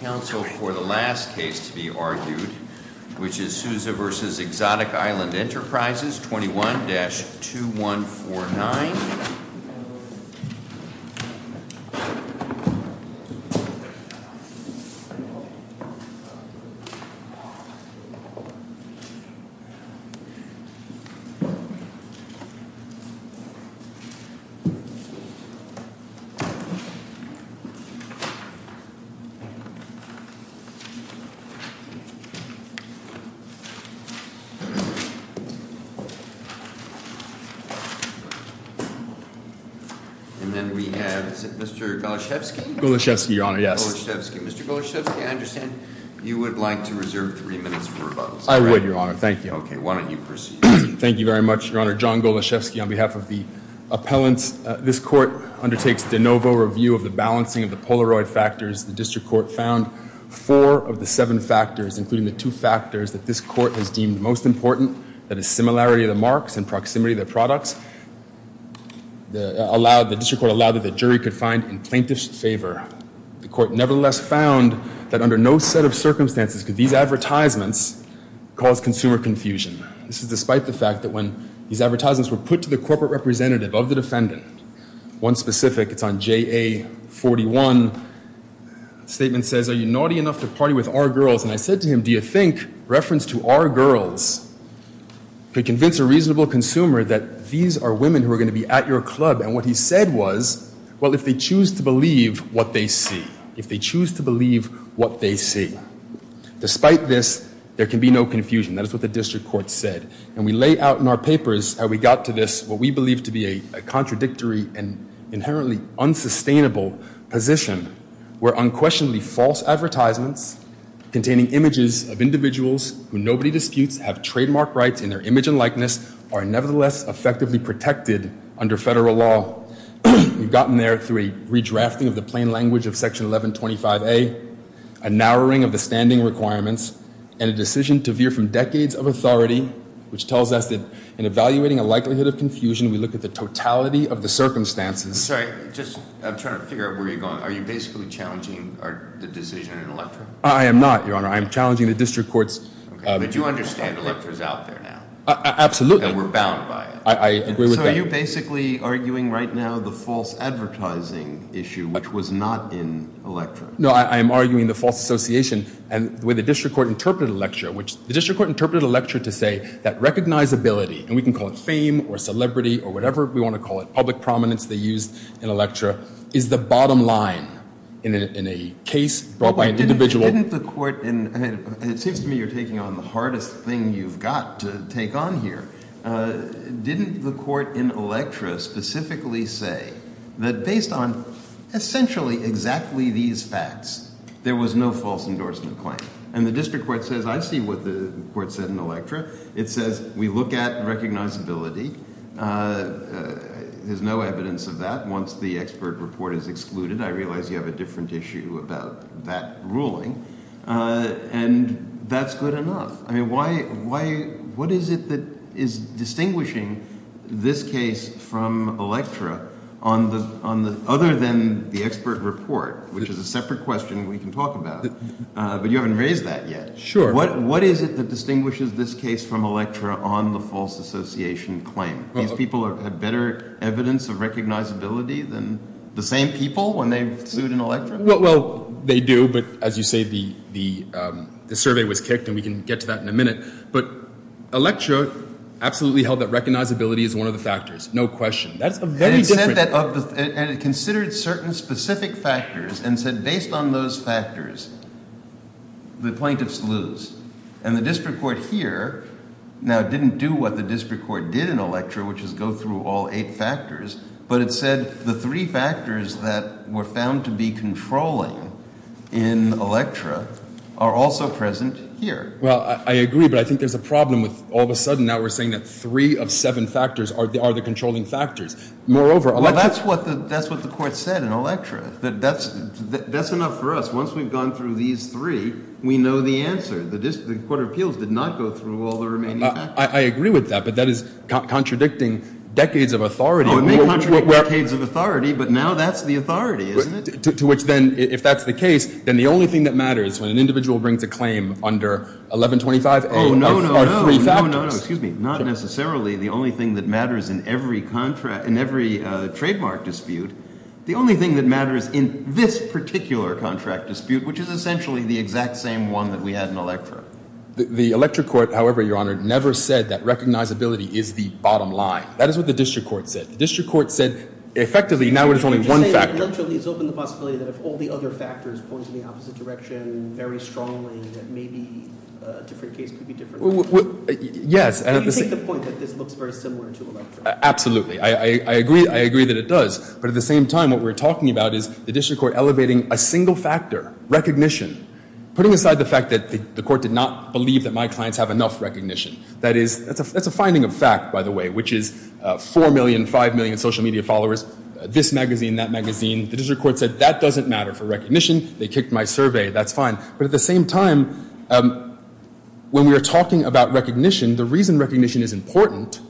Council for the last case to be argued, which is Souza v. Exotic Island Enterprises, 21-2149. And then we have Mr. Goloshevsky. Goloshevsky, Your Honor, yes. Mr. Goloshevsky, I understand you would like to reserve three minutes for rebuttals. I would, Your Honor, thank you. Okay, why don't you proceed. Thank you very much, Your Honor. John Goloshevsky, on behalf of the appellants, this court undertakes de novo review of the balancing of the Polaroid factors. The district court found four of the seven factors, including the two factors that this court has deemed most important, that is similarity of the marks and proximity of the products. The district court allowed that the jury could find in plaintiff's favor. The court nevertheless found that under no set of circumstances could these advertisements cause consumer confusion. This is despite the fact that when these advertisements were put to the corporate representative of the defendant, one specific, it's on JA-41, statement says, are you naughty enough to party with our girls? And I said to him, do you think reference to our girls could convince a reasonable consumer that these are women who are going to be at your club? And what he said was, well, if they choose to believe what they see, if they choose to believe what they see. Despite this, there can be no confusion. That is what the district court said. And we lay out in our papers how we got to this, what we believe to be a contradictory and inherently unsustainable position where unquestionably false advertisements containing images of individuals who nobody disputes have trademark rights in their image and likeness are nevertheless effectively protected under federal law. We've gotten there through a redrafting of the plain language of Section 1125A, a narrowing of the standing requirements, and a decision to veer from decades of authority, which tells us that in evaluating a likelihood of confusion, we look at the totality of the circumstances. I'm sorry. I'm trying to figure out where you're going. Are you basically challenging the decision in Electra? I am not, Your Honor. I am challenging the district court's… But you understand Electra is out there now. Absolutely. And we're bound by it. I agree with that. Are you basically arguing right now the false advertising issue, which was not in Electra? No, I am arguing the false association and the way the district court interpreted Electra, which the district court interpreted Electra to say that recognizability, and we can call it fame or celebrity or whatever we want to call it, public prominence they used in Electra, is the bottom line in a case brought by an individual. It seems to me you're taking on the hardest thing you've got to take on here. Didn't the court in Electra specifically say that based on essentially exactly these facts, there was no false endorsement claim? I see what the court said in Electra. It says we look at recognizability. There's no evidence of that. Once the expert report is excluded, I realize you have a different issue about that ruling, and that's good enough. What is it that is distinguishing this case from Electra other than the expert report, which is a separate question we can talk about, but you haven't raised that yet? Sure. What is it that distinguishes this case from Electra on the false association claim? These people have better evidence of recognizability than the same people when they've sued in Electra? Well, they do, but as you say, the survey was kicked, and we can get to that in a minute. But Electra absolutely held that recognizability is one of the factors, no question. And it considered certain specific factors and said based on those factors, the plaintiffs lose. And the district court here now didn't do what the district court did in Electra, which is go through all eight factors, but it said the three factors that were found to be controlling in Electra are also present here. Well, I agree, but I think there's a problem with all of a sudden now we're saying that three of seven factors are the controlling factors. Moreover, that's what the court said in Electra. That's enough for us. Once we've gone through these three, we know the answer. The district court of appeals did not go through all the remaining factors. I agree with that, but that is contradicting decades of authority. It may contradict decades of authority, but now that's the authority, isn't it? To which then, if that's the case, then the only thing that matters when an individual brings a claim under 1125A are three factors. Oh, no, no, no, no, no, no, no. Excuse me. Not necessarily the only thing that matters in every trademark dispute. The only thing that matters in this particular contract dispute, which is essentially the exact same one that we had in Electra. The Electra court, however, Your Honor, never said that recognizability is the bottom line. That is what the district court said. The district court said effectively now it is only one factor. Electra leaves open the possibility that if all the other factors point in the opposite direction very strongly, that maybe a different case could be different. Yes. You take the point that this looks very similar to Electra. Absolutely. I agree that it does. But at the same time, what we're talking about is the district court elevating a single factor, recognition, putting aside the fact that the court did not believe that my clients have enough recognition. That's a finding of fact, by the way, which is 4 million, 5 million social media followers. This magazine, that magazine. The district court said that doesn't matter for recognition. They kicked my survey. That's fine. But at the same time, when we are talking about recognition, the reason recognition is important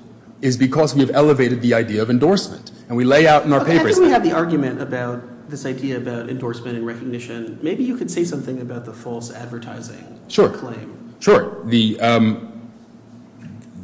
is because we have elevated the idea of endorsement. And we lay out in our papers. After we have the argument about this idea about endorsement and recognition, maybe you could say something about the false advertising claim. Sure. The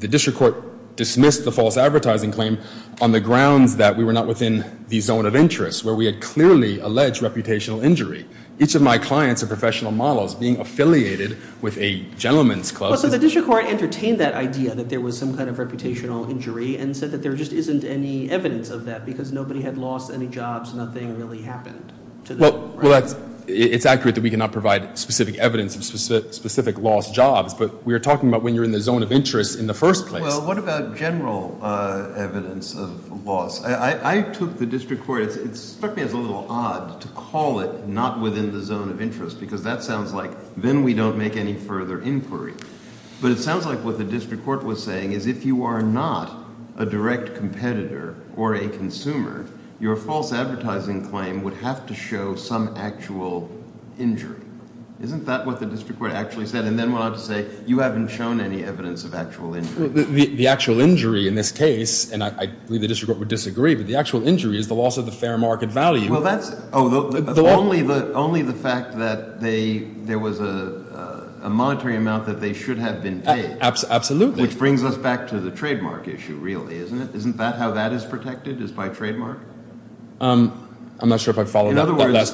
district court dismissed the false advertising claim on the grounds that we were not within the zone of interest, where we had clearly alleged reputational injury. Each of my clients are professional models being affiliated with a gentleman's club. So the district court entertained that idea that there was some kind of reputational injury and said that there just isn't any evidence of that because nobody had lost any jobs. Nothing really happened to them. Well, it's accurate that we cannot provide specific evidence of specific lost jobs. But we are talking about when you're in the zone of interest in the first place. Well, what about general evidence of loss? I took the district court – it struck me as a little odd to call it not within the zone of interest because that sounds like then we don't make any further inquiry. But it sounds like what the district court was saying is if you are not a direct competitor or a consumer, your false advertising claim would have to show some actual injury. Isn't that what the district court actually said and then went on to say you haven't shown any evidence of actual injury? The actual injury in this case, and I believe the district court would disagree, but the actual injury is the loss of the fair market value. Well, that's – oh, only the fact that there was a monetary amount that they should have been paid. Absolutely. Which brings us back to the trademark issue really, isn't it? I'm not sure if I followed that last part. In other words,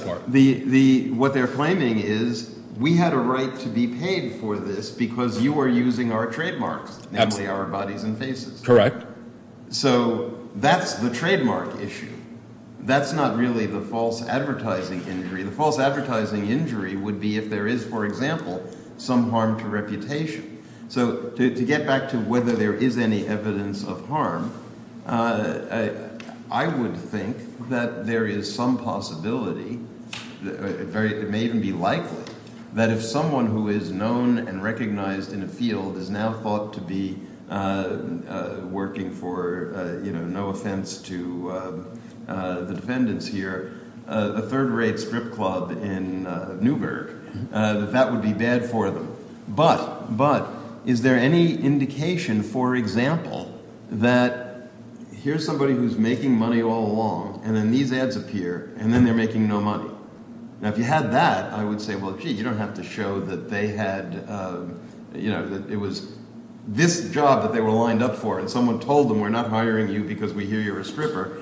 what they're claiming is we had a right to be paid for this because you are using our trademarks, namely our bodies and faces. Correct. So that's the trademark issue. That's not really the false advertising injury. The false advertising injury would be if there is, for example, some harm to reputation. So to get back to whether there is any evidence of harm, I would think that there is some possibility. It may even be likely that if someone who is known and recognized in a field is now thought to be working for, no offense to the defendants here, a third-rate strip club in Newburgh, that that would be bad for them. But is there any indication, for example, that here's somebody who's making money all along and then these ads appear and then they're making no money? Now, if you had that, I would say, well, gee, you don't have to show that they had – that it was this job that they were lined up for and someone told them we're not hiring you because we hear you're a stripper.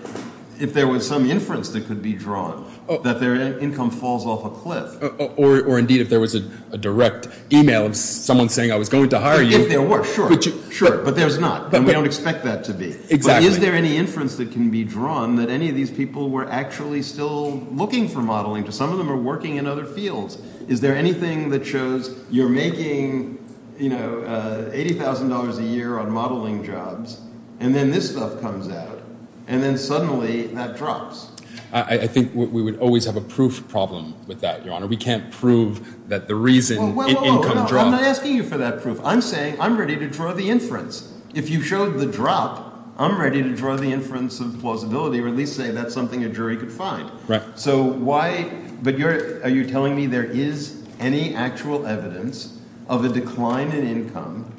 If there was some inference that could be drawn that their income falls off a cliff. Or indeed, if there was a direct email of someone saying I was going to hire you. Sure, sure, but there's not. And we don't expect that to be. Exactly. But is there any inference that can be drawn that any of these people were actually still looking for modeling? Some of them are working in other fields. Is there anything that shows you're making $80,000 a year on modeling jobs and then this stuff comes out and then suddenly that drops? I think we would always have a proof problem with that, Your Honor. We can't prove that the reason – Well, I'm not asking you for that proof. I'm saying I'm ready to draw the inference. If you showed the drop, I'm ready to draw the inference of plausibility or at least say that's something a jury could find. Right. So why – but you're – are you telling me there is any actual evidence of a decline in income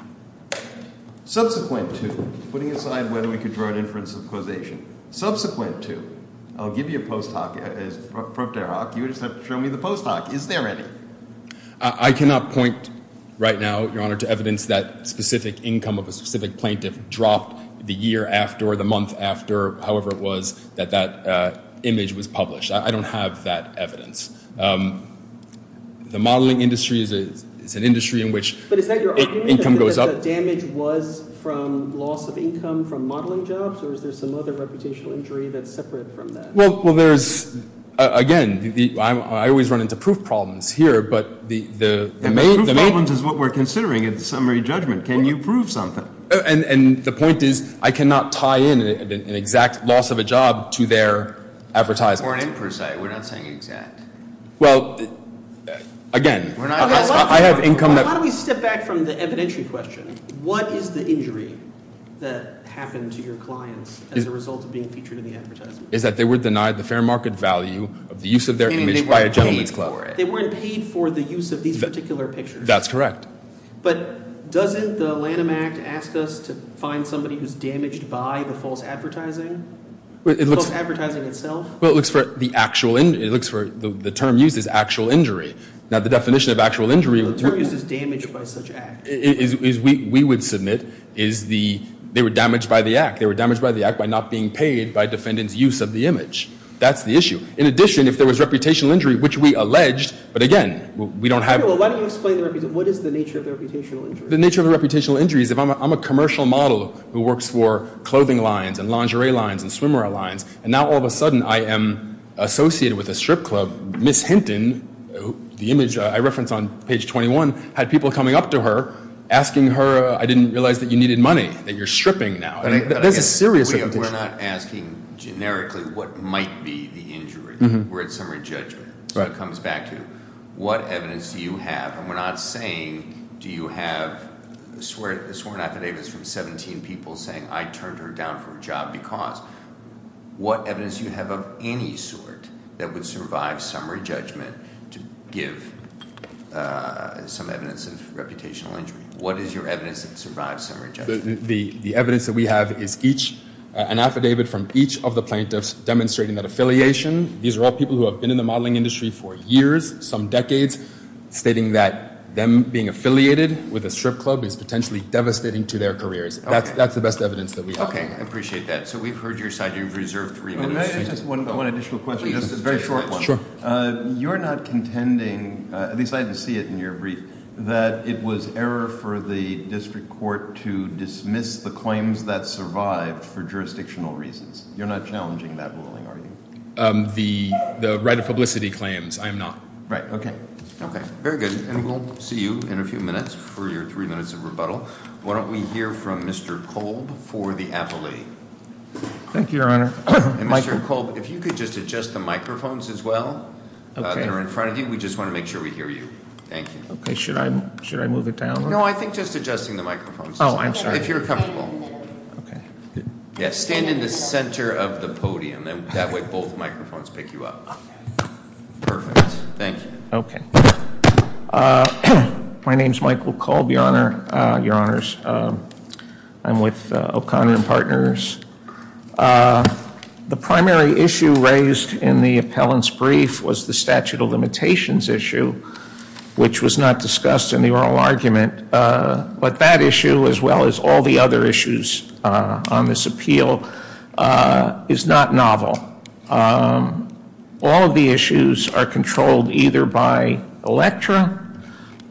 subsequent to – putting aside whether we could draw an inference of causation – I'll give you a post hoc. You just have to show me the post hoc. Is there any? I cannot point right now, Your Honor, to evidence that specific income of a specific plaintiff dropped the year after or the month after, however it was, that that image was published. I don't have that evidence. The modeling industry is an industry in which income goes up. Was the damage was from loss of income from modeling jobs or is there some other reputational injury that's separate from that? Well, there's – again, I always run into proof problems here, but the main – Proof problems is what we're considering in the summary judgment. Can you prove something? And the point is I cannot tie in an exact loss of a job to their advertisement. We're not saying exact. Well, again, I have income that – How do we step back from the evidentiary question? What is the injury that happened to your clients as a result of being featured in the advertisement? It's that they were denied the fair market value of the use of their image by a gentleman's club. They weren't paid for it. They weren't paid for the use of these particular pictures. That's correct. But doesn't the Lanham Act ask us to find somebody who's damaged by the false advertising, the false advertising itself? Well, it looks for the actual – it looks for – the term used is actual injury. Now, the definition of actual injury – The term used is damaged by such act. We would submit is the – they were damaged by the act. They were damaged by the act by not being paid by defendants' use of the image. That's the issue. In addition, if there was reputational injury, which we alleged, but again, we don't have – Well, why don't you explain the – what is the nature of the reputational injury? The nature of the reputational injury is if I'm a commercial model who works for clothing lines and lingerie lines and swimwear lines, and now all of a sudden I am associated with a strip club. Ms. Hinton, the image I referenced on page 21, had people coming up to her asking her, I didn't realize that you needed money, that you're stripping now. There's a serious – We're not asking generically what might be the injury. We're at summary judgment. So it comes back to what evidence do you have? And we're not saying do you have sworn affidavits from 17 people saying I turned her down for a job because what evidence do you have of any sort that would survive summary judgment to give some evidence of reputational injury? What is your evidence that survives summary judgment? The evidence that we have is an affidavit from each of the plaintiffs demonstrating that affiliation. These are all people who have been in the modeling industry for years, some decades, stating that them being affiliated with a strip club is potentially devastating to their careers. That's the best evidence that we have. Okay, I appreciate that. So we've heard your side. You've reserved three minutes. Just one additional question, just a very short one. Sure. You're not contending, at least I didn't see it in your brief, that it was error for the district court to dismiss the claims that survived for jurisdictional reasons. You're not challenging that ruling, are you? The right of publicity claims, I am not. Right, okay. Okay, very good. And we'll see you in a few minutes for your three minutes of rebuttal. Why don't we hear from Mr. Kolb for the appellee? Thank you, Your Honor. And, Mr. Kolb, if you could just adjust the microphones as well. They're in front of you. We just want to make sure we hear you. Thank you. Okay, should I move it down? No, I think just adjusting the microphones. Oh, I'm sorry. If you're comfortable. Okay. Yes, stand in the center of the podium. That way both microphones pick you up. Okay. Perfect. Thank you. Okay. My name is Michael Kolb, Your Honors. I'm with O'Connor and Partners. The primary issue raised in the appellant's brief was the statute of limitations issue, which was not discussed in the oral argument. But that issue, as well as all the other issues on this appeal, is not novel. All of the issues are controlled either by ELECTRA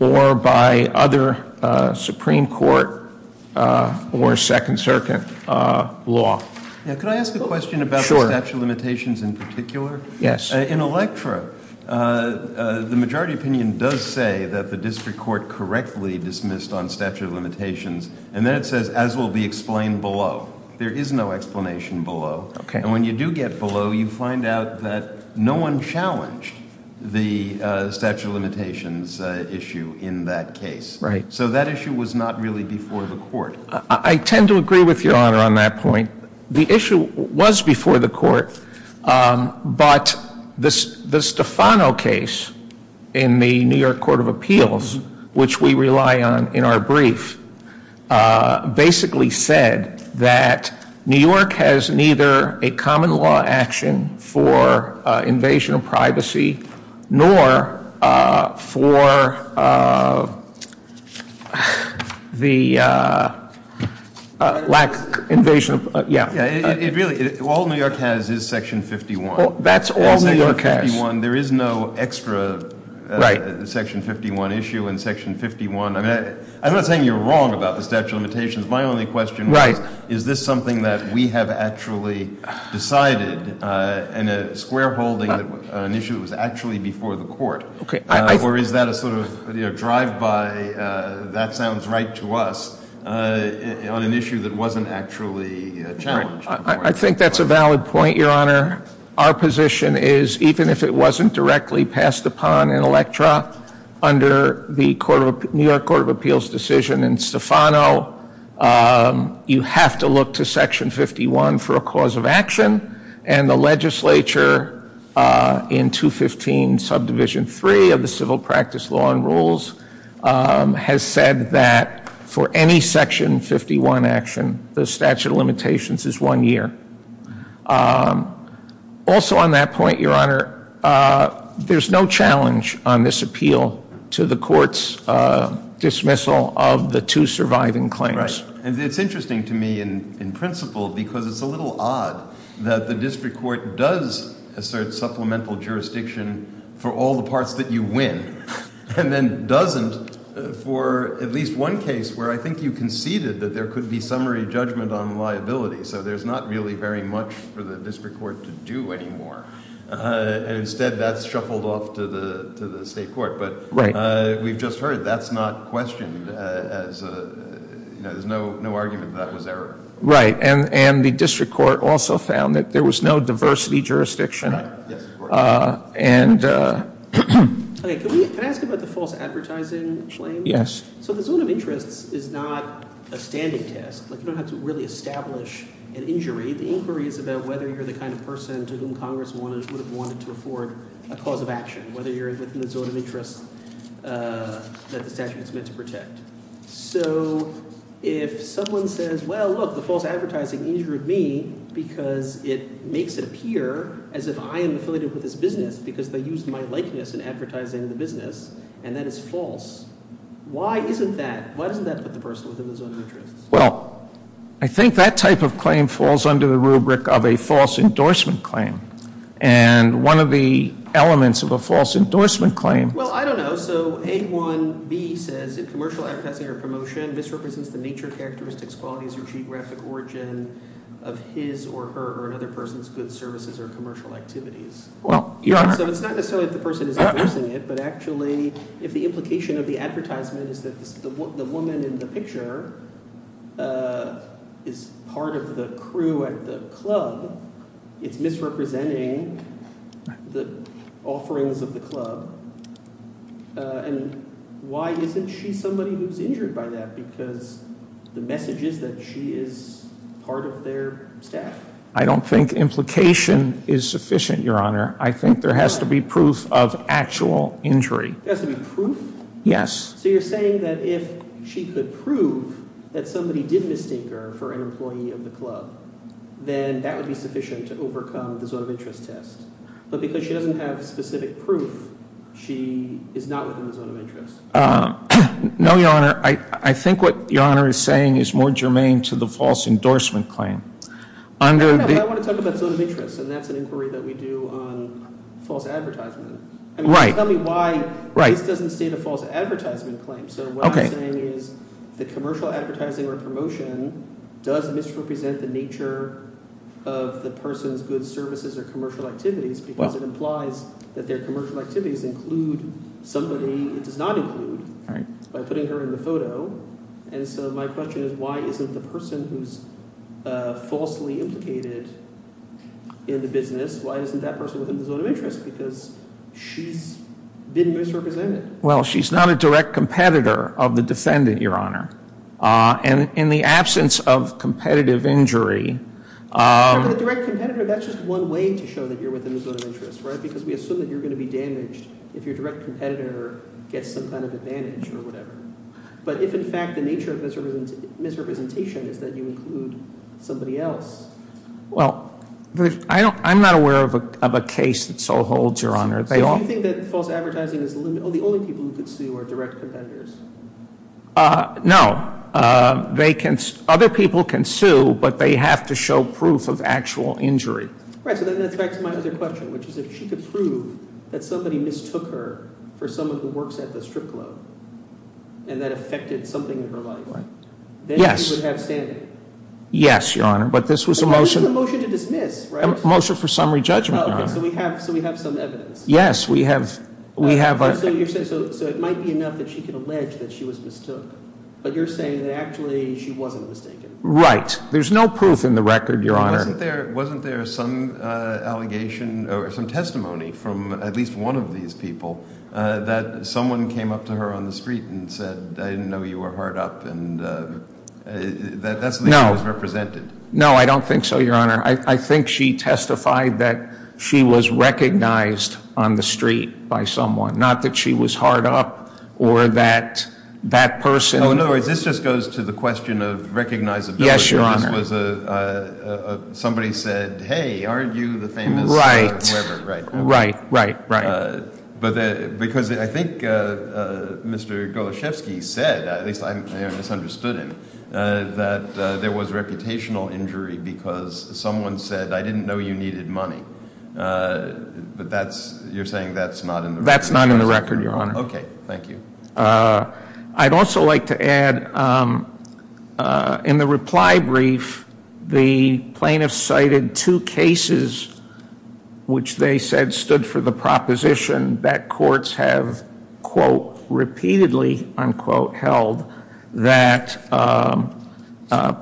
or by other Supreme Court or Second Circuit law. Could I ask a question about the statute of limitations in particular? Yes. In ELECTRA, the majority opinion does say that the district court correctly dismissed on statute of limitations. And then it says, as will be explained below. There is no explanation below. And when you do get below, you find out that no one challenged the statute of limitations issue in that case. Right. So that issue was not really before the court. I tend to agree with Your Honor on that point. The issue was before the court. But the Stefano case in the New York Court of Appeals, which we rely on in our brief, basically said that New York has neither a common law action for invasion of privacy nor for the lack of invasion of privacy. All New York has is Section 51. That's all New York has. There is no extra Section 51 issue in Section 51. I'm not saying you're wrong about the statute of limitations. My only question is, is this something that we have actually decided in a square holding that an issue was actually before the court? Or is that a sort of drive-by, that sounds right to us, on an issue that wasn't actually challenged? I think that's a valid point, Your Honor. Our position is, even if it wasn't directly passed upon in Electra under the New York Court of Appeals decision in Stefano, you have to look to Section 51 for a cause of action. And the legislature in 215 Subdivision 3 of the Civil Practice Law and Rules has said that for any Section 51 action, the statute of limitations is one year. Also on that point, Your Honor, there's no challenge on this appeal to the court's dismissal of the two surviving claims. Right. And it's interesting to me, in principle, because it's a little odd that the district court does assert supplemental jurisdiction for all the parts that you win, and then doesn't for at least one case where I think you conceded that there could be summary judgment on liability. So there's not really very much for the district court to do anymore. And instead, that's shuffled off to the state court. But we've just heard that's not questioned. There's no argument that that was error. Right. And the district court also found that there was no diversity jurisdiction. Right. Yes, of course. Can I ask about the false advertising claim? Yes. So the zone of interest is not a standing test. You don't have to really establish an injury. The inquiry is about whether you're the kind of person to whom Congress would have wanted to afford a cause of action, whether you're within the zone of interest that the statute is meant to protect. So if someone says, well, look, the false advertising injured me because it makes it appear as if I am affiliated with this business because they used my likeness in advertising the business, and that is false, why isn't that? Why doesn't that put the person within the zone of interest? Well, I think that type of claim falls under the rubric of a false endorsement claim. And one of the elements of a false endorsement claim – Well, I don't know. So A1B says if commercial advertising or promotion misrepresents the nature, characteristics, qualities, or geographic origin of his or her or another person's goods, services, or commercial activities. Well, Your Honor – So it's not necessarily if the person is endorsing it, but actually if the implication of the advertisement is that the woman in the picture is part of the crew at the club, it's misrepresenting the offerings of the club, and why isn't she somebody who's injured by that? Because the message is that she is part of their staff. I don't think implication is sufficient, Your Honor. I think there has to be proof of actual injury. There has to be proof? Yes. So you're saying that if she could prove that somebody did mistake her for an employee of the club, then that would be sufficient to overcome the zone of interest test. But because she doesn't have specific proof, she is not within the zone of interest. No, Your Honor. I think what Your Honor is saying is more germane to the false endorsement claim. I want to talk about zone of interest, and that's an inquiry that we do on false advertisement. Right. Tell me why this doesn't state a false advertisement claim. So what I'm saying is the commercial advertising or promotion does misrepresent the nature of the person's goods, services, or commercial activities because it implies that their commercial activities include somebody it does not include by putting her in the photo. And so my question is why isn't the person who's falsely implicated in the business, why isn't that person within the zone of interest? Because she's been misrepresented. Well, she's not a direct competitor of the defendant, Your Honor. And in the absence of competitive injury— But the direct competitor, that's just one way to show that you're within the zone of interest, right? Because we assume that you're going to be damaged if your direct competitor gets some kind of advantage or whatever. But if, in fact, the nature of misrepresentation is that you include somebody else— Well, I'm not aware of a case that so holds, Your Honor. So you think that false advertising is the only people who could sue are direct competitors? No. Other people can sue, but they have to show proof of actual injury. Right, so that's back to my other question, which is if she could prove that somebody mistook her for someone who works at the strip club and that affected something in her life, then she would have standing. Yes, Your Honor, but this was a motion— But this was a motion to dismiss, right? A motion for summary judgment, Your Honor. Okay, so we have some evidence. Yes, we have— So it might be enough that she could allege that she was mistook, but you're saying that actually she wasn't mistaken. Right. There's no proof in the record, Your Honor. Wasn't there some allegation or some testimony from at least one of these people that someone came up to her on the street and said, I didn't know you were hard up, and that's the way she was represented? No. No, I don't think so, Your Honor. I think she testified that she was recognized on the street by someone, not that she was hard up or that that person— Oh, no, this just goes to the question of recognizability. Yes, Your Honor. Somebody said, hey, aren't you the famous— Right. Whoever, right. Right, right, right. Because I think Mr. Goloszewski said, at least I misunderstood him, that there was reputational injury because someone said, I didn't know you needed money. But that's—you're saying that's not in the record? That's not in the record, Your Honor. Okay, thank you. I'd also like to add, in the reply brief, the plaintiffs cited two cases which they said stood for the proposition that courts have, quote, repeatedly, unquote, held, that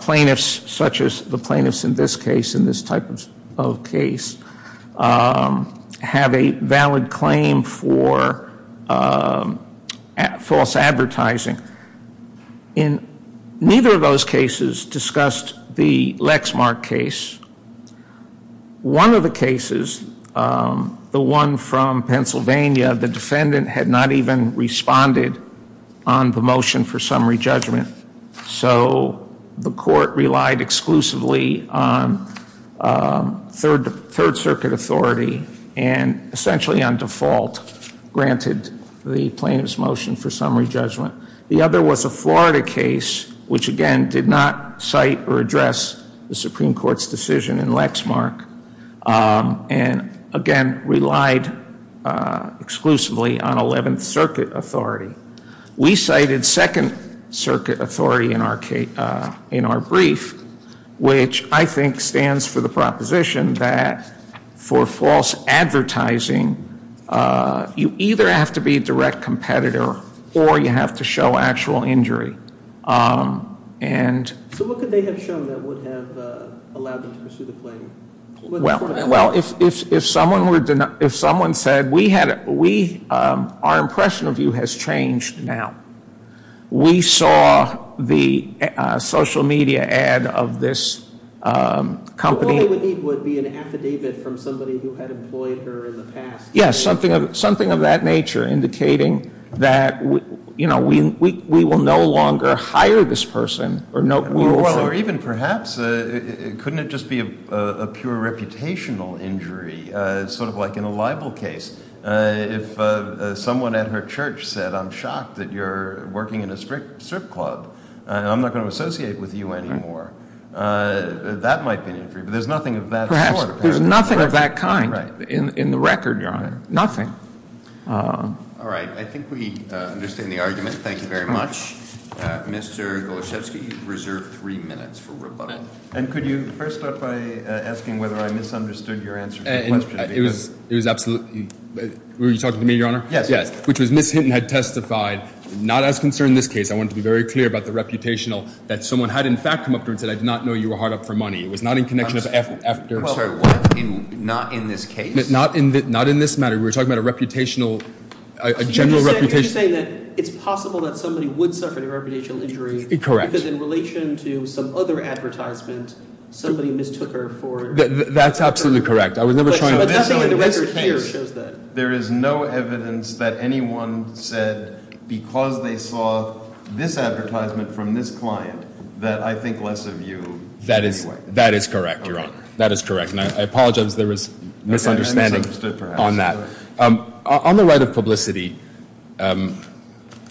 plaintiffs, such as the plaintiffs in this case, in this type of case, have a valid claim for false advertising. In neither of those cases discussed the Lexmark case. One of the cases, the one from Pennsylvania, the defendant had not even responded on the motion for summary judgment. So the court relied exclusively on Third Circuit authority and essentially on default granted the plaintiff's motion for summary judgment. The other was a Florida case which, again, did not cite or address the Supreme Court's decision in Lexmark and, again, relied exclusively on Eleventh Circuit authority. We cited Second Circuit authority in our brief, which I think stands for the proposition that for false advertising, you either have to be a direct competitor or you have to show actual injury. So what could they have shown that would have allowed them to pursue the claim? Well, if someone said, our impression of you has changed now. We saw the social media ad of this company. What they would need would be an affidavit from somebody who had employed her in the past. Yes, something of that nature, indicating that we will no longer hire this person. Or even perhaps, couldn't it just be a pure reputational injury, sort of like in a libel case? If someone at her church said, I'm shocked that you're working in a strip club. I'm not going to associate with you anymore. That might be an injury, but there's nothing of that sort. Perhaps. There's nothing of that kind in the record, Your Honor. Nothing. All right. I think we understand the argument. Thank you very much. Mr. Goloszewski, you've reserved three minutes for rebuttal. And could you first start by asking whether I misunderstood your answer to the question? It was absolutely – were you talking to me, Your Honor? Yes. Which was Ms. Hinton had testified, not as concerned in this case. I wanted to be very clear about the reputational, that someone had in fact come up to her and said, I did not know you were hard up for money. It was not in connection of – I'm sorry. What? Not in this case? Not in this matter. We were talking about a reputational – a general reputation. Are you saying that it's possible that somebody would suffer a reputational injury? Correct. Because in relation to some other advertisement, somebody mistook her for – That's absolutely correct. I was never trying to – But nothing in the record here shows that. There is no evidence that anyone said because they saw this advertisement from this client that I think less of you anyway. That is correct, Your Honor. That is correct. And I apologize if there was misunderstanding on that. On the right of publicity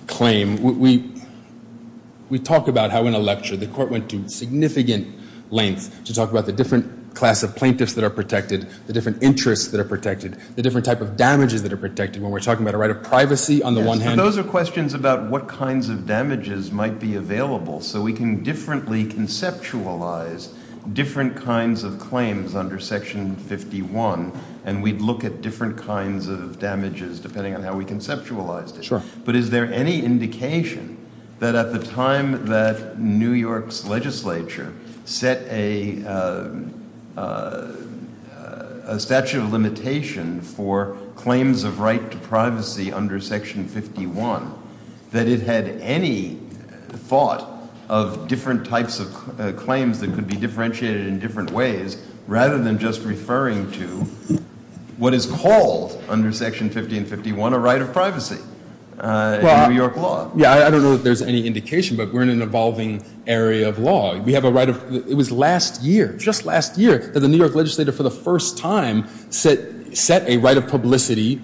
claim, we talk about how in a lecture the court went to significant lengths to talk about the different class of plaintiffs that are protected, the different interests that are protected, the different type of damages that are protected when we're talking about a right of privacy on the one hand – Those are questions about what kinds of damages might be available so we can differently conceptualize different kinds of claims under Section 51 and we'd look at different kinds of damages depending on how we conceptualized it. Sure. But is there any indication that at the time that New York's legislature set a statute of limitation for claims of right to privacy under Section 51 that it had any thought of different types of claims that could be differentiated in different ways rather than just referring to what is called under Section 50 and 51 a right of privacy in New York law? Yeah, I don't know if there's any indication, but we're in an evolving area of law. We have a right of – it was last year, just last year, that the New York legislature for the first time set a right of publicity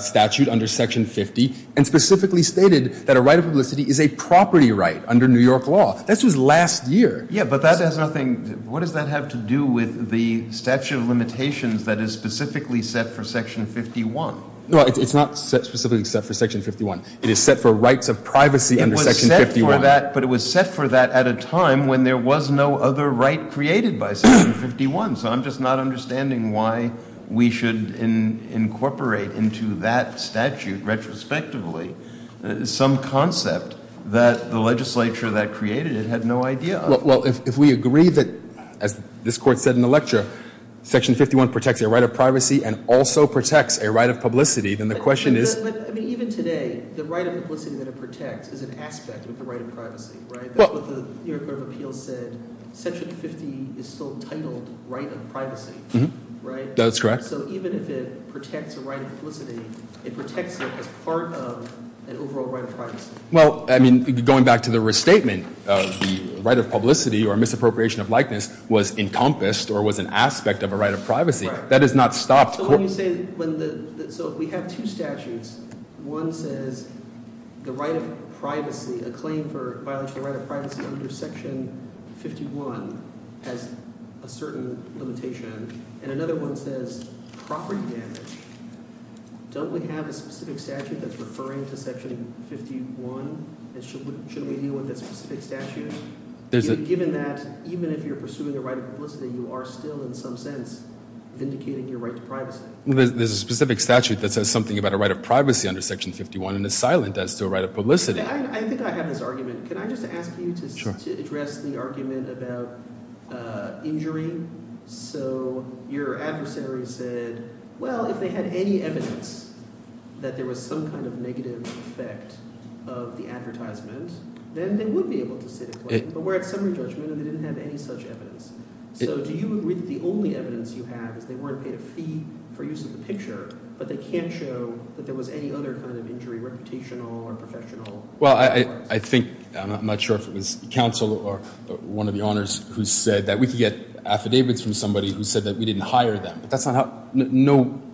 statute under Section 50 and specifically stated that a right of publicity is a property right under New York law. This was last year. Yeah, but that has nothing – what does that have to do with the statute of limitations that is specifically set for Section 51? No, it's not specifically set for Section 51. It is set for rights of privacy under Section 51. It was set for that, but it was set for that at a time when there was no other right created by Section 51. So I'm just not understanding why we should incorporate into that statute retrospectively some concept that the legislature that created it had no idea of. Well, if we agree that, as this Court said in the lecture, Section 51 protects a right of privacy and also protects a right of publicity, then the question is – But even today, the right of publicity that it protects is an aspect of the right of privacy, right? That's what the New York Court of Appeals said. Section 50 is still titled right of privacy, right? That's correct. So even if it protects a right of publicity, it protects it as part of an overall right of privacy. Well, I mean going back to the restatement, the right of publicity or misappropriation of likeness was encompassed or was an aspect of a right of privacy. That has not stopped – So when you say – so we have two statutes. One says the right of privacy, a claim for violation of the right of privacy under Section 51 has a certain limitation, and another one says property damage. Don't we have a specific statute that's referring to Section 51, and should we deal with that specific statute? Given that even if you're pursuing the right of publicity, you are still in some sense vindicating your right to privacy. There's a specific statute that says something about a right of privacy under Section 51 and is silent as to a right of publicity. I think I have this argument. Can I just ask you to address the argument about injury? So your adversary said, well, if they had any evidence that there was some kind of negative effect of the advertisement, then they would be able to sit a claim. But we're at summary judgment, and they didn't have any such evidence. So do you agree that the only evidence you have is they weren't paid a fee for use of the picture, but they can't show that there was any other kind of injury, reputational or professional? Well, I think – I'm not sure if it was counsel or one of the honors who said that we could get affidavits from somebody who said that we didn't hire them. But that's not how –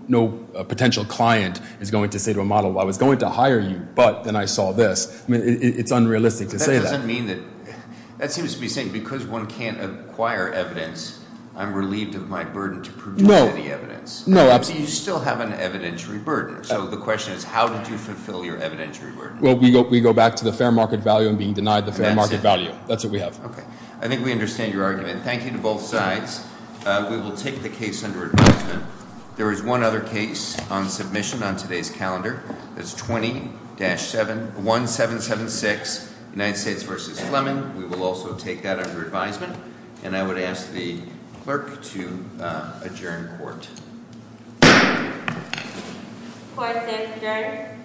no potential client is going to say to a model, well, I was going to hire you, but then I saw this. I mean, it's unrealistic to say that. But that doesn't mean that – that seems to be saying because one can't acquire evidence, I'm relieved of my burden to produce any evidence. No, absolutely. So you still have an evidentiary burden. So the question is how did you fulfill your evidentiary burden? Well, we go back to the fair market value and being denied the fair market value. That's it. That's what we have. Okay. I think we understand your argument. Thank you to both sides. We will take the case under advisement. There is one other case on submission on today's calendar. That's 20-1776, United States v. Fleming. We will also take that under advisement. And I would ask the clerk to adjourn court. Court is adjourned.